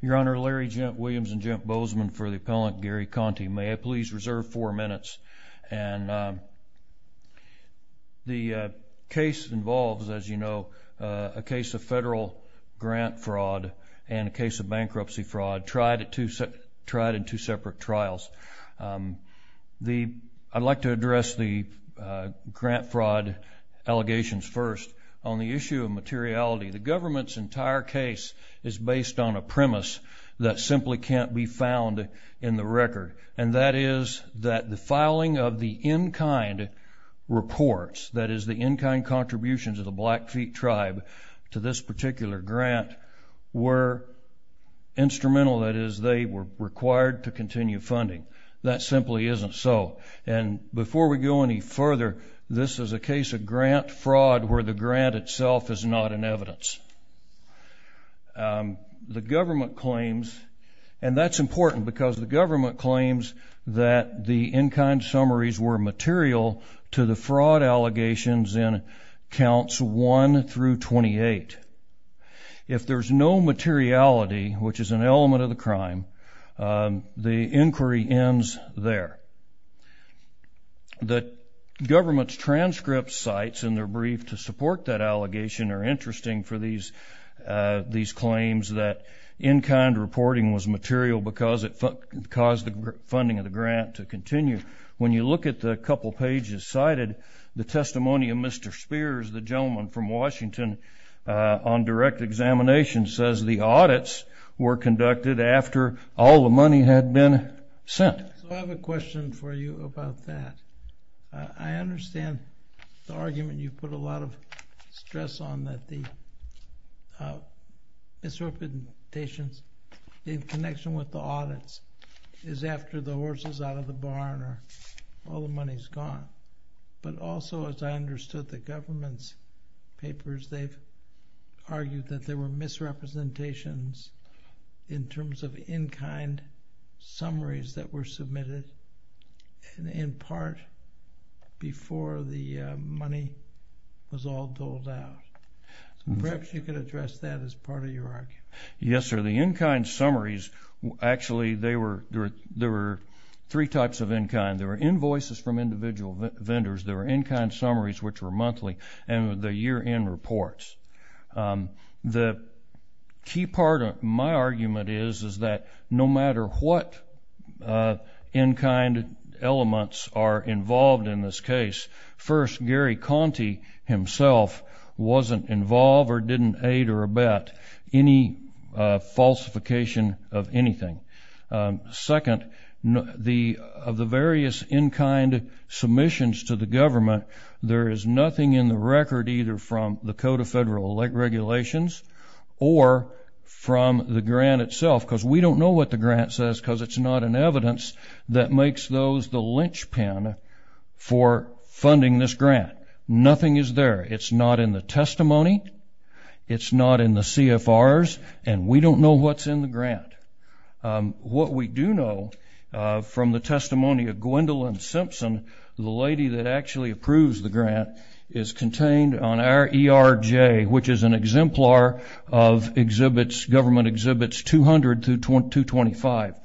Your Honor, Larry Williams and Jim Bozeman for the appellant Gary Conti. May I please reserve four minutes? The case involves, as you know, a case of federal grant fraud and a case of bankruptcy fraud tried in two separate trials. I'd like to address the grant fraud allegations first. On the issue of materiality, the government's entire case is based on a premise that simply can't be found in the record, and that is that the filing of the in-kind reports, that is, the in-kind contributions of the Blackfeet Tribe to this particular grant, were instrumental, that is, they were required to continue funding. That simply isn't so. And before we go any further, this is a case of grant fraud where the grant itself is not in evidence. The government claims, and that's important because the government claims that the in-kind summaries were material to the fraud allegations in counts 1 through 28. If there's no materiality, which is an element of the crime, the inquiry ends there. The government's transcript sites in their brief to support that allegation are interesting for these claims that in-kind reporting was material because it caused the funding of the grant to continue. When you look at the couple pages cited, the testimony of Mr. Spears, the gentleman from Washington, on direct examination says the audits were conducted after all the money had been sent. So I have a question for you about that. I understand the argument you put a lot of stress on that the misrepresentations in connection with the audits is after the horse is out of the barn or all the money's gone. But also, as I understood the government's papers, they've argued that there were misrepresentations in terms of in-kind summaries that were submitted in part before the money was all doled out. Perhaps you could address that as part of your argument. Yes, sir. The in-kind summaries, actually, there were three types of in-kind. There were invoices from individual vendors. There were in-kind summaries, which were monthly, and the year-end reports. The key part of my argument is that no matter what in-kind elements are involved in this case, first, Gary Conte himself wasn't involved or didn't aid or abet any falsification of anything. Second, of the various in-kind submissions to the government, there is nothing in the record either from the Code of Federal Regulations or from the grant itself because we don't know what the grant says because it's not in evidence that makes those the linchpin for funding this grant. Nothing is there. It's not in the testimony. It's not in the CFRs, and we don't know what's in the grant. What we do know from the testimony of Gwendolyn Simpson, the lady that actually approves the grant, is contained on our ERJ, which is an exemplar of government Exhibits 200 through 225.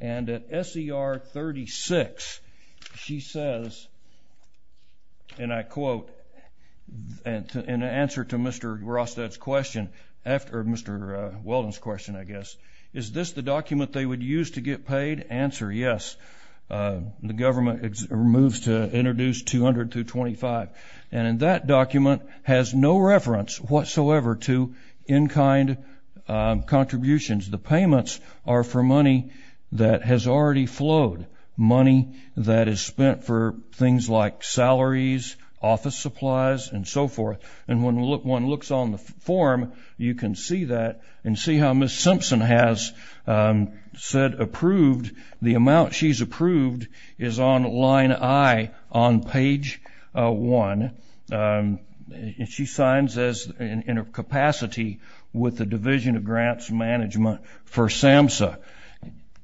And at SER 36, she says, and I quote, in answer to Mr. Weldon's question, is this the document they would use to get paid? Answer, yes. The government moves to introduce 200 through 225, and that document has no reference whatsoever to in-kind contributions. The payments are for money that has already flowed, money that is spent for things like salaries, office supplies, and so forth. And when one looks on the form, you can see that and see how Ms. Simpson has said approved. The amount she's approved is on line I on page 1. She signs this in her capacity with the Division of Grants Management for SAMHSA.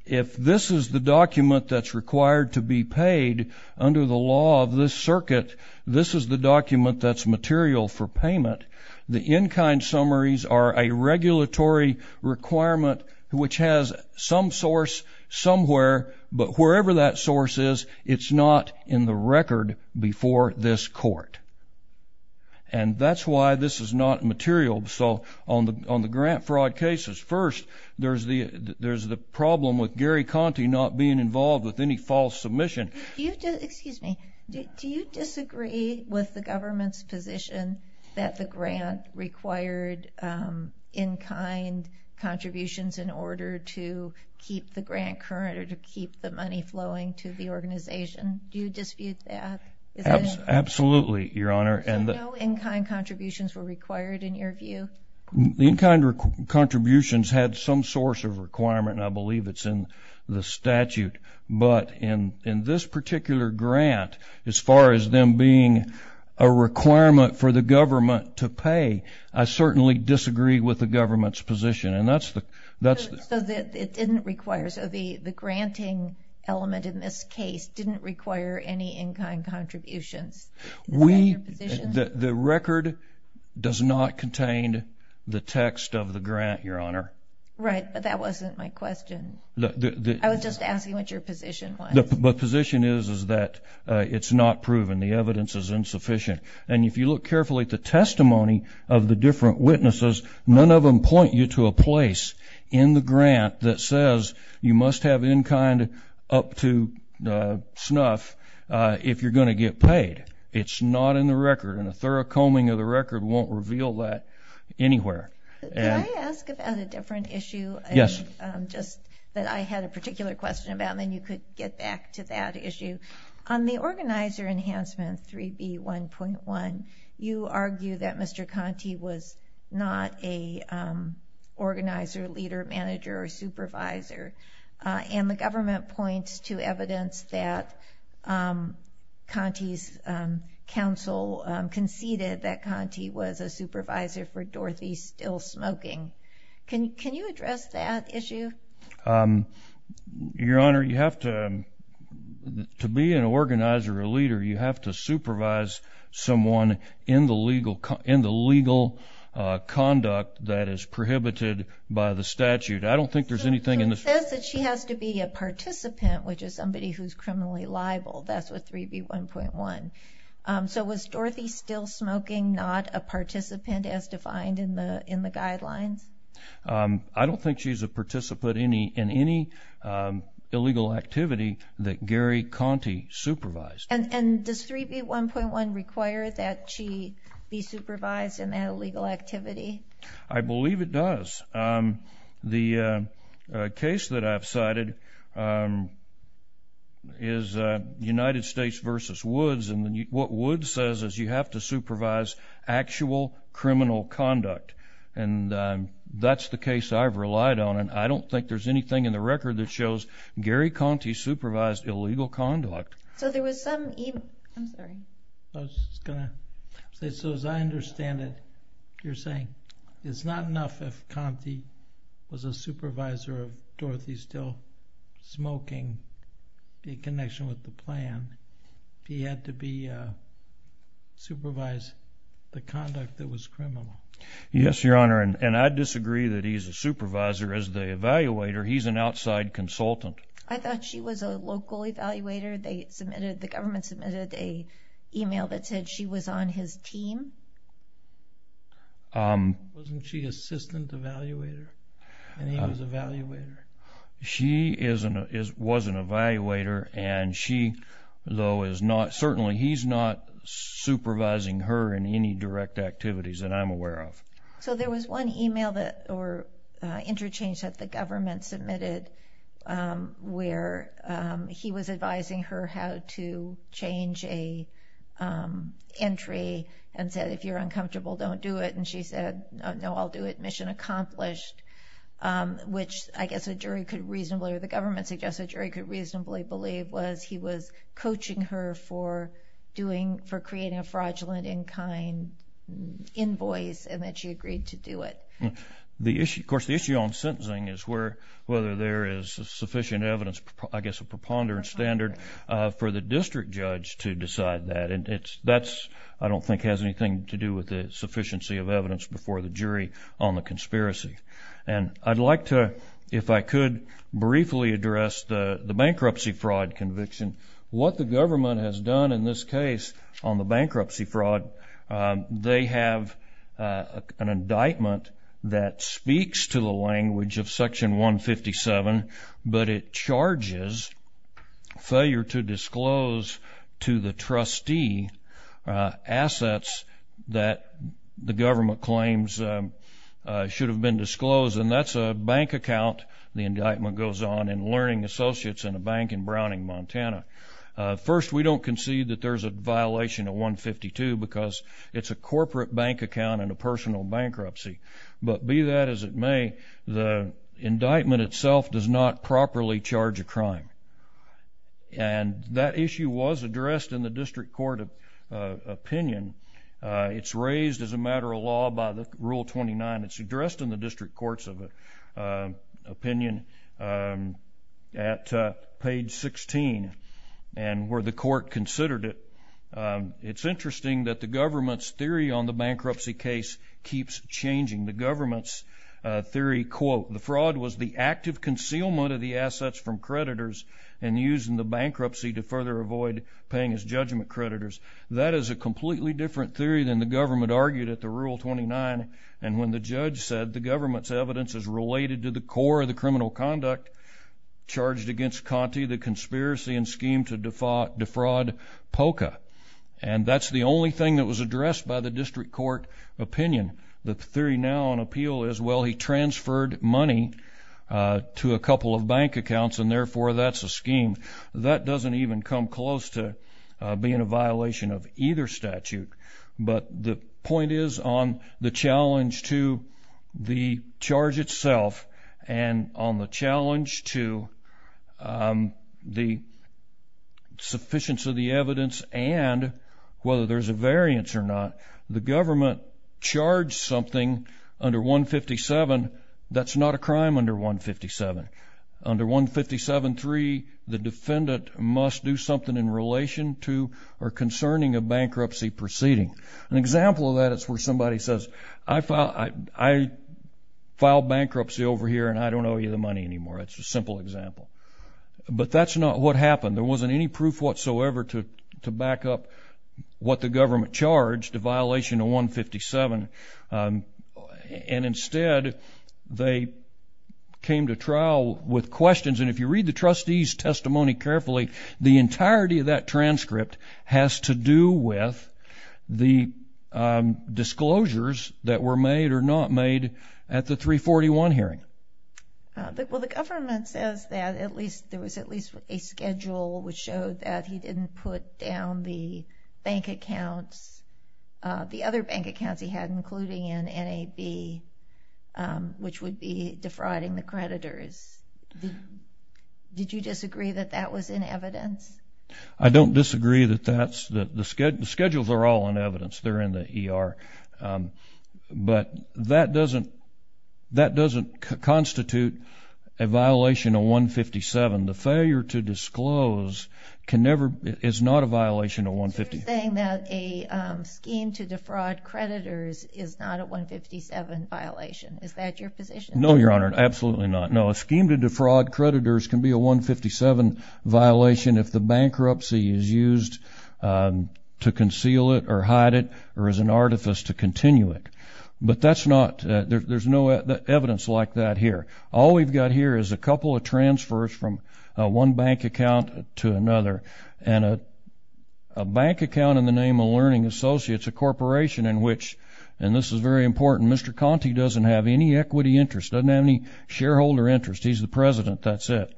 If this is the document that's required to be paid under the law of this circuit, this is the document that's material for payment. The in-kind summaries are a regulatory requirement which has some source somewhere, but wherever that source is, it's not in the record before this court. And that's why this is not material. So on the grant fraud cases, first, there's the problem with Gary Conte not being involved with any false submission. Do you disagree with the government's position that the grant required in-kind contributions in order to keep the grant current or to keep the money flowing to the organization? Do you dispute that? Absolutely, Your Honor. So no in-kind contributions were required in your view? The in-kind contributions had some source of requirement. I believe it's in the statute. But in this particular grant, as far as them being a requirement for the government to pay, I certainly disagree with the government's position. So the granting element in this case didn't require any in-kind contributions. Is that your position? The record does not contain the text of the grant, Your Honor. Right, but that wasn't my question. I was just asking what your position was. The position is that it's not proven. The evidence is insufficient. And if you look carefully at the testimony of the different witnesses, none of them point you to a place in the grant that says you must have in-kind up to snuff if you're going to get paid. It's not in the record, and a thorough combing of the record won't reveal that anywhere. Can I ask about a different issue? Yes. Just that I had a particular question about, and then you could get back to that issue. On the organizer enhancement, 3B1.1, you argue that Mr. Conte was not a organizer, leader, manager, or supervisor. And the government points to evidence that Conte's counsel conceded that Conte was a supervisor for Dorothy Still Smoking. Your Honor, to be an organizer or leader, you have to supervise someone in the legal conduct that is prohibited by the statute. I don't think there's anything in the statute. So it says that she has to be a participant, which is somebody who's criminally liable. That's with 3B1.1. So was Dorothy Still Smoking not a participant as defined in the guidelines? I don't think she's a participant in any illegal activity that Gary Conte supervised. And does 3B1.1 require that she be supervised in that illegal activity? I believe it does. The case that I've cited is United States v. Woods, and what Woods says is you have to supervise actual criminal conduct. And that's the case I've relied on, and I don't think there's anything in the record that shows Gary Conte supervised illegal conduct. So there was some—I'm sorry. I was going to say, so as I understand it, you're saying it's not enough if Conte was a supervisor of Dorothy Still Smoking in connection with the plan. He had to supervise the conduct that was criminal. Yes, Your Honor, and I disagree that he's a supervisor. As the evaluator, he's an outside consultant. I thought she was a local evaluator. They submitted—the government submitted an email that said she was on his team. Wasn't she assistant evaluator? And he was evaluator. She was an evaluator, and she, though, is not—certainly he's not supervising her in any direct activities that I'm aware of. So there was one email that were interchanged that the government submitted where he was advising her how to change a entry and said, if you're uncomfortable, don't do it. And she said, no, I'll do it. Mission accomplished, which I guess a jury could reasonably—or the government suggested a jury could reasonably believe was he was coaching her for doing—for creating a fraudulent in-kind invoice and that she agreed to do it. The issue—of course, the issue on sentencing is where—whether there is sufficient evidence, I guess, a preponderance standard for the district judge to decide that. And that's—I don't think has anything to do with the sufficiency of evidence before the jury on the conspiracy. And I'd like to, if I could, briefly address the bankruptcy fraud conviction. What the government has done in this case on the bankruptcy fraud, they have an indictment that speaks to the language of Section 157, but it charges failure to disclose to the trustee assets that the government claims should have been disclosed. And that's a bank account, the indictment goes on, in Learning Associates in a bank in Browning, Montana. First, we don't concede that there's a violation of 152 because it's a corporate bank account and a personal bankruptcy. But be that as it may, the indictment itself does not properly charge a crime. And that issue was addressed in the district court opinion. It's raised as a matter of law by Rule 29. It's addressed in the district courts opinion at page 16 and where the court considered it. It's interesting that the government's theory on the bankruptcy case keeps changing. The government's theory, quote, the fraud was the active concealment of the assets from creditors and used in the bankruptcy to further avoid paying as judgment creditors. That is a completely different theory than the government argued at the Rule 29. And when the judge said the government's evidence is related to the core of the criminal conduct charged against Conte, the conspiracy and scheme to defraud POCA. And that's the only thing that was addressed by the district court opinion. The theory now on appeal is, well, he transferred money to a couple of bank accounts, and therefore that's a scheme. That doesn't even come close to being a violation of either statute. But the point is on the challenge to the charge itself and on the challenge to the sufficiency of the evidence and whether there's a variance or not. The government charged something under 157. That's not a crime under 157. Under 157.3, the defendant must do something in relation to or concerning a bankruptcy proceeding. An example of that is where somebody says, I filed bankruptcy over here, and I don't owe you the money anymore. That's a simple example. But that's not what happened. There wasn't any proof whatsoever to back up what the government charged, a violation of 157. And instead, they came to trial with questions. And if you read the trustee's testimony carefully, the entirety of that transcript has to do with the disclosures that were made or not made at the 341 hearing. Well, the government says that at least there was at least a schedule which showed that he didn't put down the bank accounts, the other bank accounts he had, including an NAB, which would be defrauding the creditors. Did you disagree that that was in evidence? I don't disagree that that's the schedule. The schedules are all in evidence. They're in the ER. But that doesn't constitute a violation of 157. The failure to disclose is not a violation of 157. You're saying that a scheme to defraud creditors is not a 157 violation. Is that your position? No, Your Honor, absolutely not. No, a scheme to defraud creditors can be a 157 violation if the bankruptcy is used to conceal it or hide it or is an artifice to continue it. But that's not – there's no evidence like that here. All we've got here is a couple of transfers from one bank account to another, and a bank account in the name of Learning Associates, a corporation in which – and this is very important – Mr. Conte doesn't have any equity interest, doesn't have any shareholder interest. He's the president. That's it.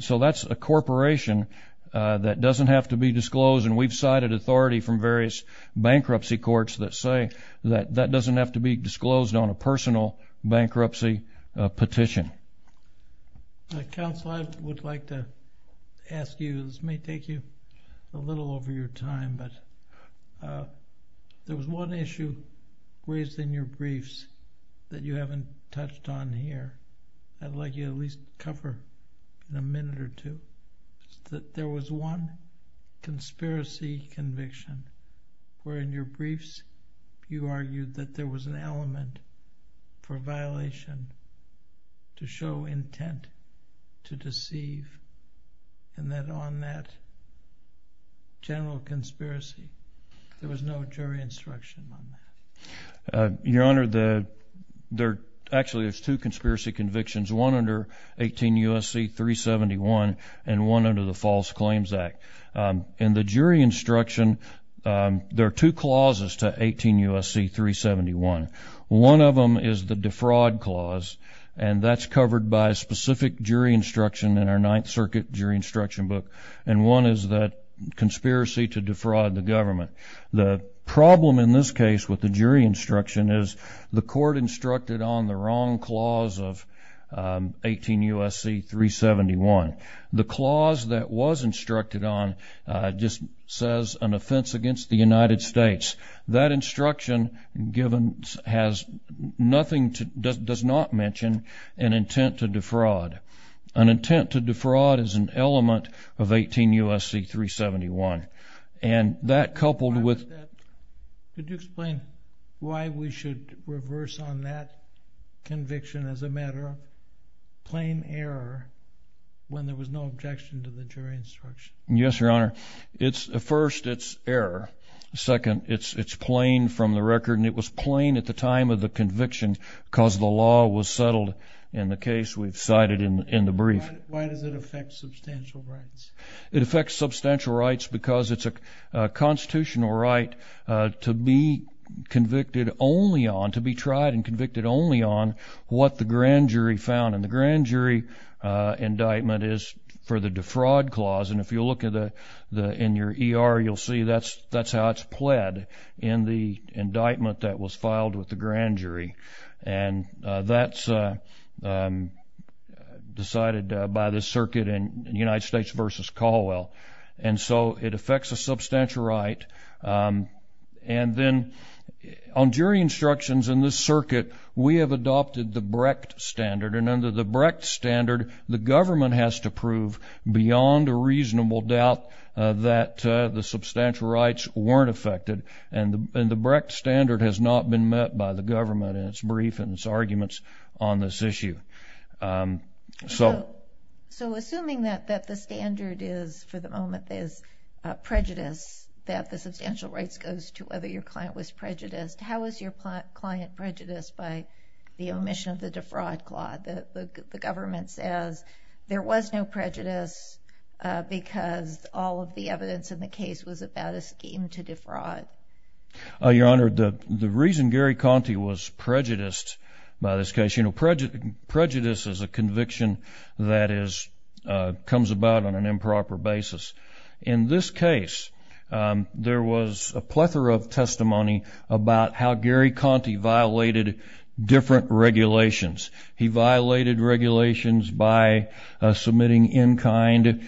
So that's a corporation that doesn't have to be disclosed, and we've cited authority from various bankruptcy courts that say that that doesn't have to be disclosed on a personal bankruptcy petition. Counsel, I would like to ask you – this may take you a little over your time, but there was one issue raised in your briefs that you haven't touched on here. I'd like you to at least cover in a minute or two. There was one conspiracy conviction where in your briefs you argued that there was an element for a violation to show intent to deceive, and that on that general conspiracy there was no jury instruction on that. Your Honor, there – actually, there's two conspiracy convictions, one under 18 U.S.C. 371 and one under the False Claims Act. In the jury instruction, there are two clauses to 18 U.S.C. 371. One of them is the defraud clause, and that's covered by a specific jury instruction in our Ninth Circuit jury instruction book, and one is that conspiracy to defraud the government. The problem in this case with the jury instruction is the court instructed on the wrong clause of 18 U.S.C. 371. The clause that was instructed on just says an offense against the United States. That instruction has nothing – does not mention an intent to defraud. An intent to defraud is an element of 18 U.S.C. 371, and that coupled with – Could you explain why we should reverse on that conviction as a matter of plain error when there was no objection to the jury instruction? Yes, Your Honor. First, it's error. Second, it's plain from the record, and it was plain at the time of the conviction because the law was settled in the case we've cited in the brief. Why does it affect substantial rights? It affects substantial rights because it's a constitutional right to be convicted only on – to be tried and convicted only on what the grand jury found. And the grand jury indictment is for the defraud clause. And if you look in your ER, you'll see that's how it's pled in the indictment that was filed with the grand jury. And that's decided by the circuit in United States v. Caldwell. And so it affects a substantial right. And then on jury instructions in this circuit, we have adopted the Brecht standard. And under the Brecht standard, the government has to prove beyond a reasonable doubt that the substantial rights weren't affected. And the Brecht standard has not been met by the government in its brief and its arguments on this issue. So assuming that the standard is, for the moment, is prejudice, that the substantial rights goes to whether your client was prejudiced, how is your client prejudiced by the omission of the defraud clause? The government says there was no prejudice because all of the evidence in the case was about a scheme to defraud. Your Honor, the reason Gary Conte was prejudiced by this case, you know, prejudice is a conviction that comes about on an improper basis. In this case, there was a plethora of testimony about how Gary Conte violated different regulations. He violated regulations by submitting in-kind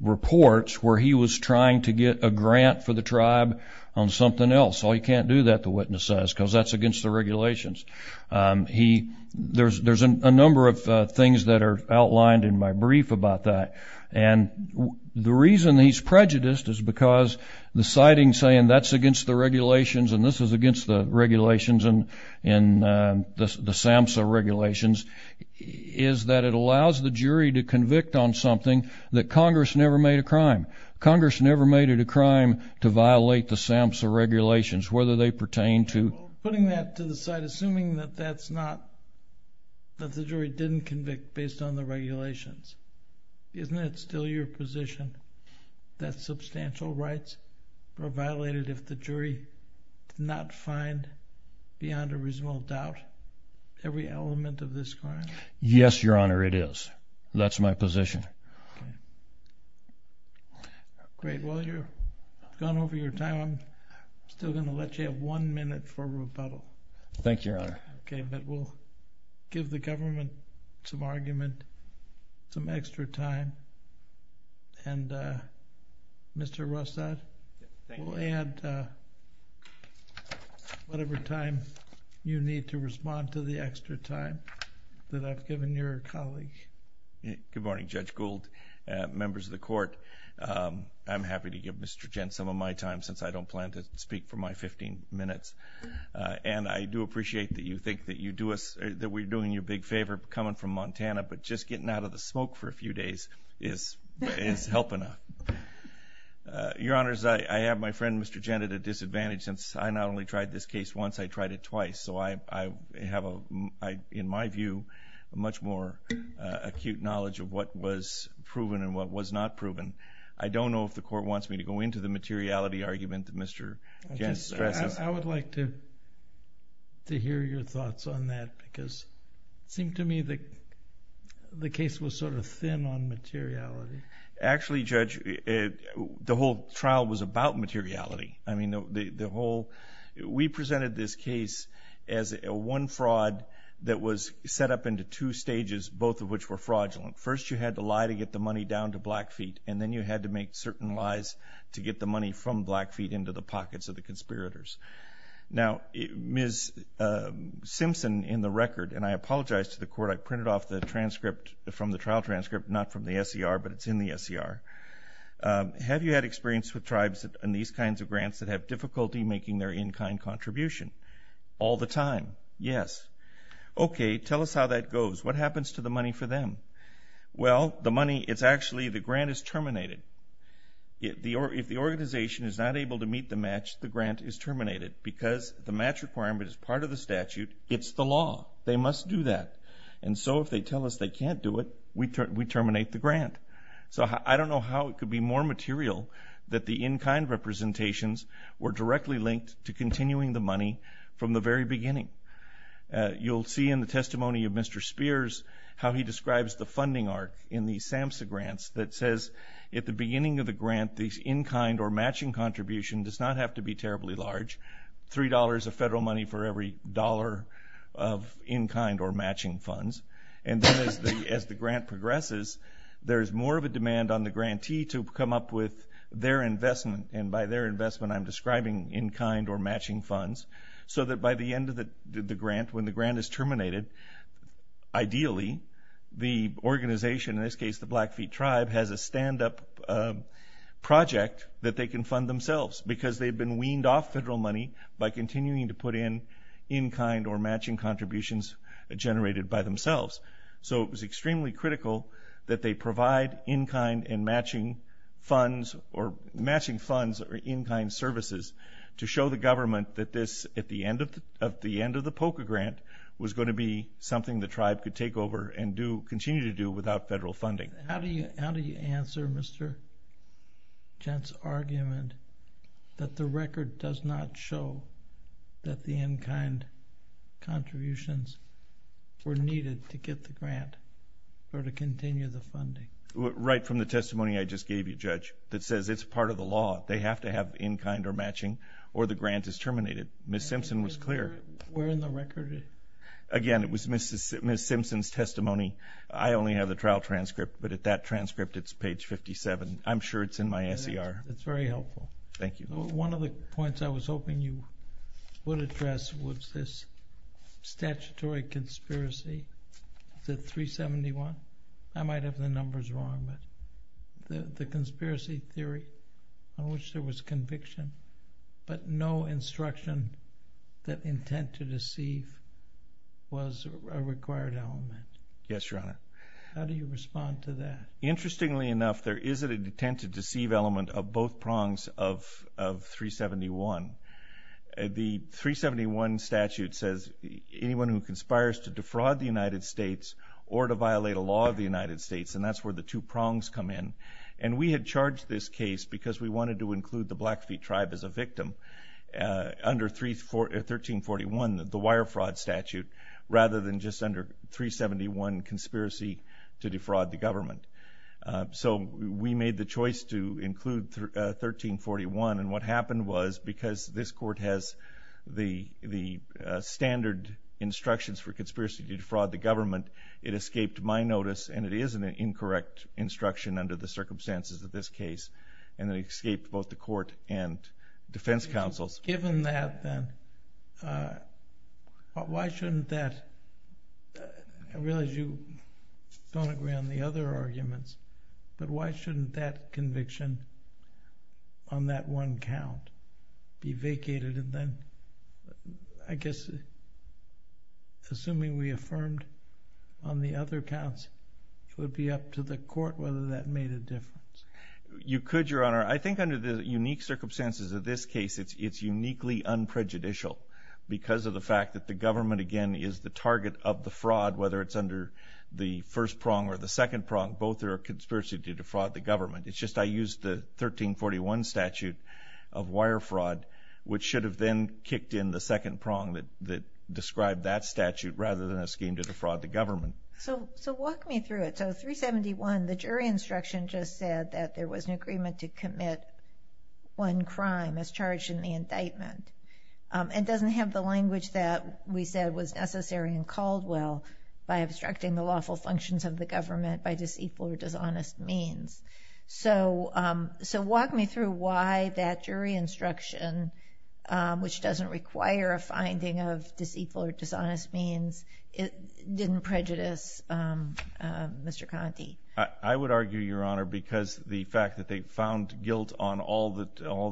reports where he was trying to get a grant for the tribe on something else. Oh, you can't do that, the witness says, because that's against the regulations. There's a number of things that are outlined in my brief about that. And the reason he's prejudiced is because the citing saying that's against the regulations and this is against the regulations and the SAMHSA regulations is that it allows the jury to convict on something that Congress never made a crime. Congress never made it a crime to violate the SAMHSA regulations, whether they pertain to – Putting that to the side, assuming that that's not – that the jury didn't convict based on the regulations. Isn't it still your position that substantial rights are violated if the jury did not find beyond a reasonable doubt every element of this crime? Yes, Your Honor, it is. That's my position. Okay. Great. Well, you've gone over your time. I'm still going to let you have one minute for rebuttal. Thank you, Your Honor. Okay, but we'll give the government some argument, some extra time. And Mr. Rossat, we'll add whatever time you need to respond to the extra time that I've given your colleague. Good morning, Judge Gould, members of the Court. I'm happy to give Mr. Gent some of my time since I don't plan to speak for my 15 minutes. And I do appreciate that you think that you do us – that we're doing you a big favor coming from Montana, but just getting out of the smoke for a few days is helping us. Your Honors, I have my friend, Mr. Gent, at a disadvantage since I not only tried this case once, I tried it twice. So I have, in my view, a much more acute knowledge of what was proven and what was not proven. I don't know if the Court wants me to go into the materiality argument that Mr. Gent stresses. I would like to hear your thoughts on that because it seemed to me that the case was sort of thin on materiality. Actually, Judge, the whole trial was about materiality. I mean, the whole – we presented this case as one fraud that was set up into two stages, both of which were fraudulent. First, you had to lie to get the money down to Blackfeet, and then you had to make certain lies to get the money from Blackfeet into the pockets of the conspirators. Now, Ms. Simpson, in the record, and I apologize to the Court, I printed off the transcript from the trial transcript, not from the SER, but it's in the SER. Have you had experience with tribes and these kinds of grants that have difficulty making their in-kind contribution? All the time, yes. Okay, tell us how that goes. What happens to the money for them? Well, the money, it's actually the grant is terminated. If the organization is not able to meet the match, the grant is terminated. Because the match requirement is part of the statute, it's the law. They must do that. And so if they tell us they can't do it, we terminate the grant. So I don't know how it could be more material that the in-kind representations were directly linked to continuing the money from the very beginning. You'll see in the testimony of Mr. Spears how he describes the funding arc in the SAMHSA grants that says, at the beginning of the grant, the in-kind or matching contribution does not have to be terribly large, $3 of federal money for every dollar of in-kind or matching funds. And then as the grant progresses, there is more of a demand on the grantee to come up with their investment, and by their investment I'm describing in-kind or matching funds, so that by the end of the grant, when the grant is terminated, ideally the organization, in this case the Blackfeet Tribe, has a stand-up project that they can fund themselves because they've been weaned off federal money by continuing to put in in-kind or matching contributions generated by themselves. So it was extremely critical that they provide in-kind and matching funds or in-kind services to show the government that this, at the end of the POCA grant, was going to be something the Tribe could take over and continue to do without federal funding. How do you answer Mr. Gent's argument that the record does not show that the in-kind contributions were needed to get the grant or to continue the funding? Right from the testimony I just gave you, Judge, that says it's part of the law. They have to have in-kind or matching or the grant is terminated. Ms. Simpson was clear. Where in the record? Again, it was Ms. Simpson's testimony. I only have the trial transcript, but at that transcript it's page 57. I'm sure it's in my S.E.R. It's very helpful. Thank you. One of the points I was hoping you would address was this statutory conspiracy. Is it 371? I might have the numbers wrong, but the conspiracy theory on which there was conviction, but no instruction that intent to deceive was a required element. Yes, Your Honor. How do you respond to that? Interestingly enough, there is an intent to deceive element of both prongs of 371. The 371 statute says anyone who conspires to defraud the United States or to violate a law of the United States, and that's where the two prongs come in. And we had charged this case because we wanted to include the Blackfeet tribe as a victim under 1341, the wire fraud statute, rather than just under 371, conspiracy to defraud the government. So we made the choice to include 1341, and what happened was because this Court has the standard instructions for conspiracy to defraud the government, it escaped my notice, and it is an incorrect instruction under the circumstances of this case, and it escaped both the Court and defense counsels. Given that, then, why shouldn't that? I realize you don't agree on the other arguments, but why shouldn't that conviction on that one count be vacated, and then, I guess, assuming we affirmed on the other counts, it would be up to the Court whether that made a difference. You could, Your Honor. I think under the unique circumstances of this case, it's uniquely unprejudicial because of the fact that the government, again, is the target of the fraud, whether it's under the first prong or the second prong. Both are a conspiracy to defraud the government. It's just I used the 1341 statute of wire fraud, which should have then kicked in the second prong that described that statute rather than a scheme to defraud the government. So walk me through it. So 371, the jury instruction just said that there was an agreement to commit one crime as charged in the indictment. by obstructing the lawful functions of the government by disequal or dishonest means. So walk me through why that jury instruction, which doesn't require a finding of disequal or dishonest means, didn't prejudice Mr. Conte. I would argue, Your Honor, because the fact that they found guilt on all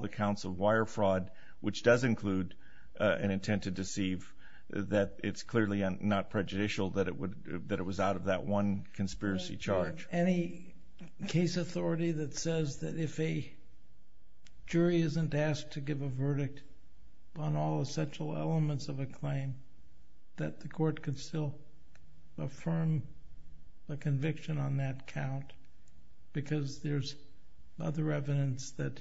the counts of wire fraud, which does include an intent to deceive, that it's clearly not prejudicial that it was out of that one conspiracy charge. Any case authority that says that if a jury isn't asked to give a verdict on all essential elements of a claim, that the court could still affirm a conviction on that count because there's other evidence that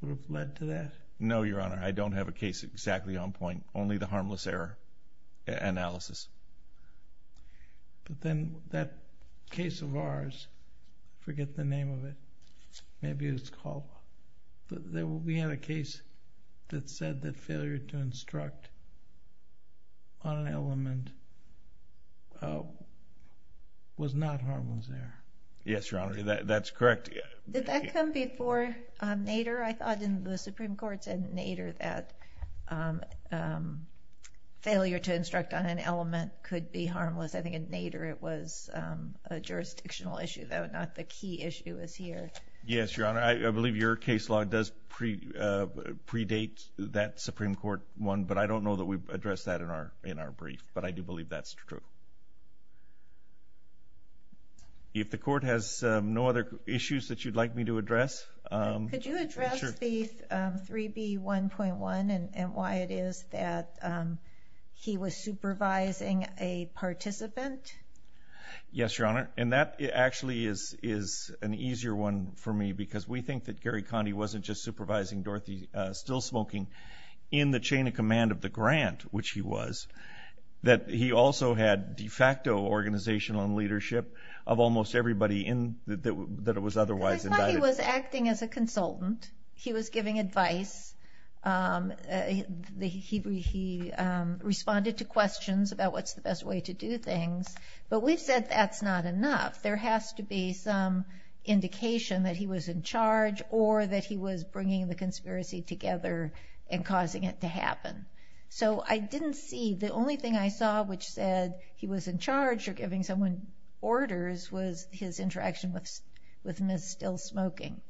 would have led to that? No, Your Honor. I don't have a case exactly on point. Only the harmless error analysis. But then that case of ours, forget the name of it. Maybe it's called. We had a case that said that failure to instruct on an element was not harmless error. Yes, Your Honor. That's correct. Did that come before Nader? I thought in the Supreme Court's Nader that failure to instruct on an element could be harmless. I think in Nader it was a jurisdictional issue, though, not the key issue is here. Yes, Your Honor. I believe your case law does predate that Supreme Court one, but I don't know that we've addressed that in our brief. But I do believe that's true. If the court has no other issues that you'd like me to address. Could you address the 3B1.1 and why it is that he was supervising a participant? Yes, Your Honor. And that actually is an easier one for me because we think that Gary Condie wasn't just supervising Dorothy Stillsmoking in the chain of command of the grant, which he was, that he also had de facto organizational and leadership of almost everybody that was otherwise invited. I thought he was acting as a consultant. He was giving advice. He responded to questions about what's the best way to do things. But we've said that's not enough. There has to be some indication that he was in charge or that he was bringing the conspiracy together and causing it to happen. So I didn't see, the only thing I saw which said he was in charge or giving someone orders was his interaction with Ms. Stillsmoking.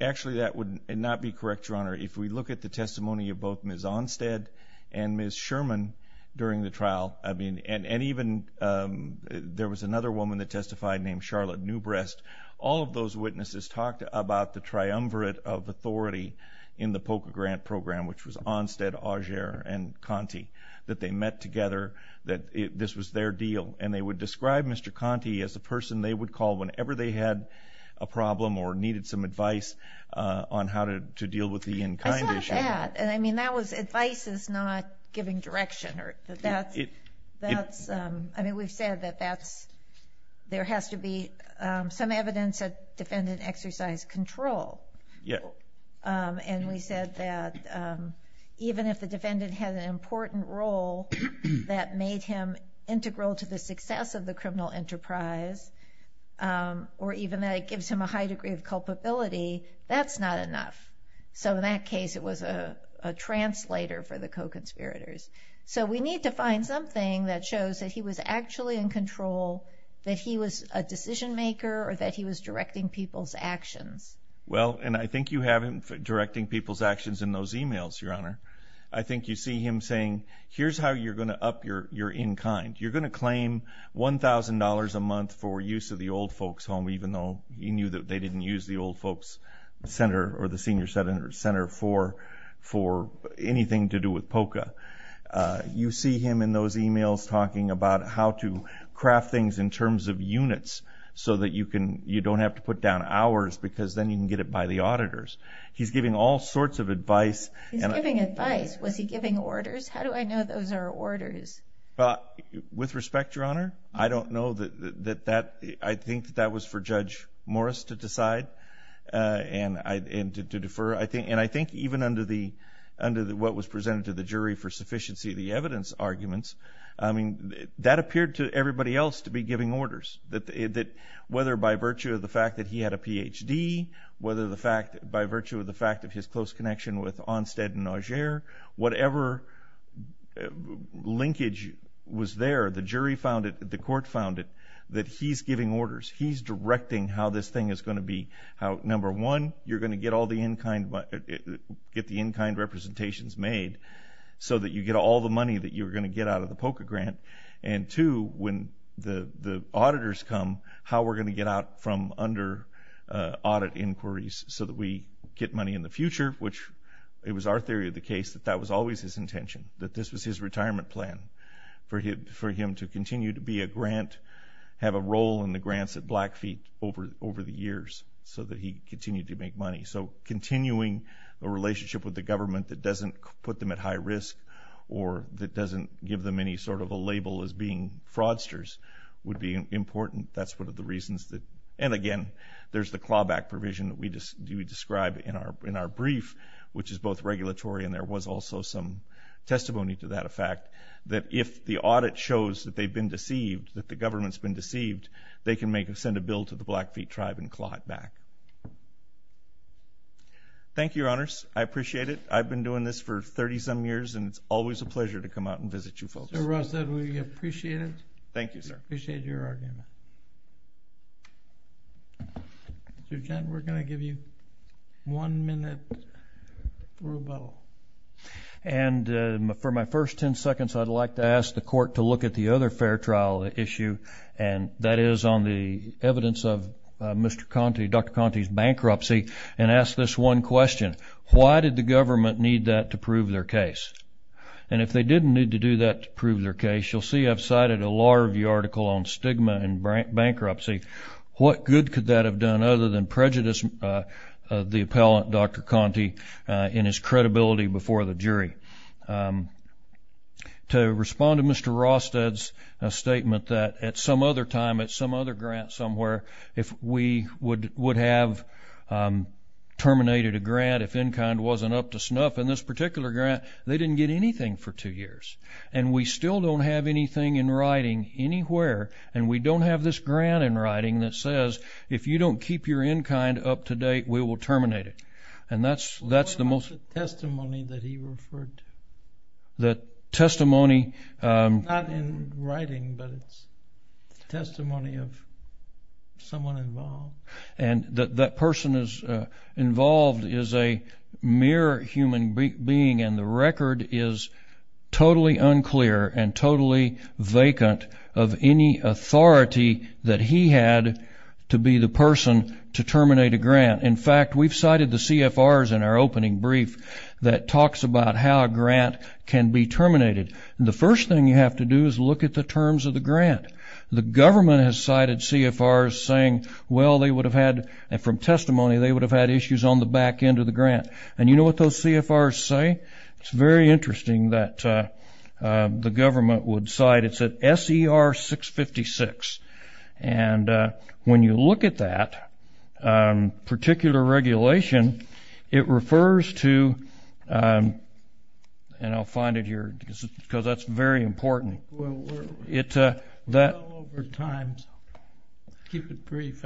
Actually, that would not be correct, Your Honor. If we look at the testimony of both Ms. Onstead and Ms. Sherman during the trial, and even there was another woman that testified named Charlotte Newbrest, all of those witnesses talked about the triumvirate of authority in the POCA grant program, which was Onstead, Augere, and Condie, that they met together, that this was their deal. And they would describe Mr. Condie as the person they would call whenever they had a problem or needed some advice on how to deal with the in-kind issue. I saw that. I mean, that was advice is not giving direction. I mean, we've said that there has to be some evidence that defendant exercised control. Yes. And we said that even if the defendant had an important role that made him integral to the success of the criminal enterprise, or even that it gives him a high degree of culpability, that's not enough. So in that case, it was a translator for the co-conspirators. So we need to find something that shows that he was actually in control, that he was a decision-maker, or that he was directing people's actions. Well, and I think you have him directing people's actions in those e-mails, Your Honor. I think you see him saying, here's how you're going to up your in-kind. You're going to claim $1,000 a month for use of the old folks' home, even though you knew that they didn't use the old folks' center or the senior center for anything to do with POCA. You see him in those e-mails talking about how to craft things in terms of units so that you don't have to put down hours because then you can get it by the auditors. He's giving all sorts of advice. He's giving advice. Was he giving orders? How do I know those are orders? With respect, Your Honor, I don't know. I think that was for Judge Morris to decide and to defer. And I think even under what was presented to the jury for sufficiency of the evidence arguments, I mean, that appeared to everybody else to be giving orders, whether by virtue of the fact that he had a Ph.D., whether by virtue of the fact of his close connection with Onstead and Augere, whatever linkage was there, the jury found it, the court found it, that he's giving orders. He's directing how this thing is going to be. Number one, you're going to get all the in-kind representations made so that you get all the money that you're going to get out of the POCA grant. And two, when the auditors come, how we're going to get out from under audit inquiries so that we get money in the future, which it was our theory of the case that that was always his intention, that this was his retirement plan, for him to continue to be a grant, have a role in the grants at Blackfeet over the years so that he could continue to make money. So continuing a relationship with the government that doesn't put them at high risk or that doesn't give them any sort of a label as being fraudsters would be important. That's one of the reasons that, and again, there's the clawback provision that we described in our brief, which is both regulatory and there was also some testimony to that effect, that if the audit shows that they've been deceived, that the government's been deceived, they can send a bill to the Blackfeet tribe and claw it back. Thank you, Your Honors. I appreciate it. I've been doing this for 30-some years, and it's always a pleasure to come out and visit you folks. So, Russ, we appreciate it. Thank you, sir. We appreciate your argument. Mr. Kent, we're going to give you one minute rebuttal. And for my first 10 seconds, I'd like to ask the Court to look at the other fair trial issue, and that is on the evidence of Mr. Conte, Dr. Conte's bankruptcy, and ask this one question. Why did the government need that to prove their case? And if they didn't need to do that to prove their case, you'll see I've cited a Law Review article on stigma and bankruptcy. What good could that have done other than prejudice the appellant, Dr. Conte, in his credibility before the jury? To respond to Mr. Rosted's statement that at some other time, at some other grant somewhere, if we would have terminated a grant if in-kind wasn't up to snuff in this particular grant, they didn't get anything for two years. And we still don't have anything in writing anywhere, and we don't have this grant in writing that says if you don't keep your in-kind up to date, we will terminate it. What about the testimony that he referred to? The testimony? Not in writing, but it's testimony of someone involved. And that person involved is a mere human being, and the record is totally unclear and totally vacant of any authority that he had to be the person to terminate a grant. In fact, we've cited the CFRs in our opening brief that talks about how a grant can be terminated. The first thing you have to do is look at the terms of the grant. The government has cited CFRs saying, well, they would have had, from testimony, they would have had issues on the back end of the grant. And you know what those CFRs say? It's very interesting that the government would cite it. And when you look at that particular regulation, it refers to, and I'll find it here, because that's very important. Well, we're well over time, so keep it brief.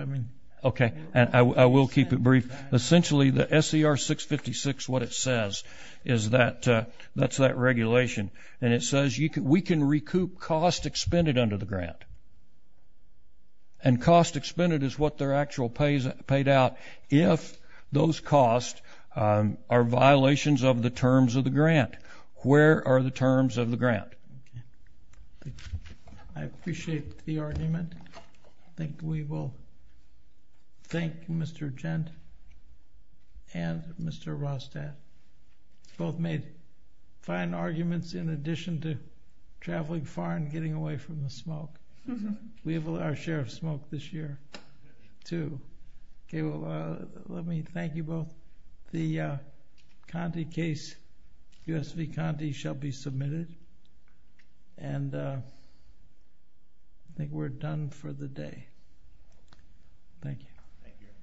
Okay. I will keep it brief. Essentially, the SCR 656, what it says is that that's that regulation. And it says we can recoup cost expended under the grant. And cost expended is what they're actual paid out if those costs are violations of the terms of the grant. Where are the terms of the grant? I appreciate the argument. I think we will thank Mr. Gent and Mr. Rostad. Both made fine arguments in addition to traveling far and getting away from the smoke. We have our share of smoke this year, too. Let me thank you both. The Conte case, US v. Conte, shall be submitted. And I think we're done for the day. Thank you. Thank you.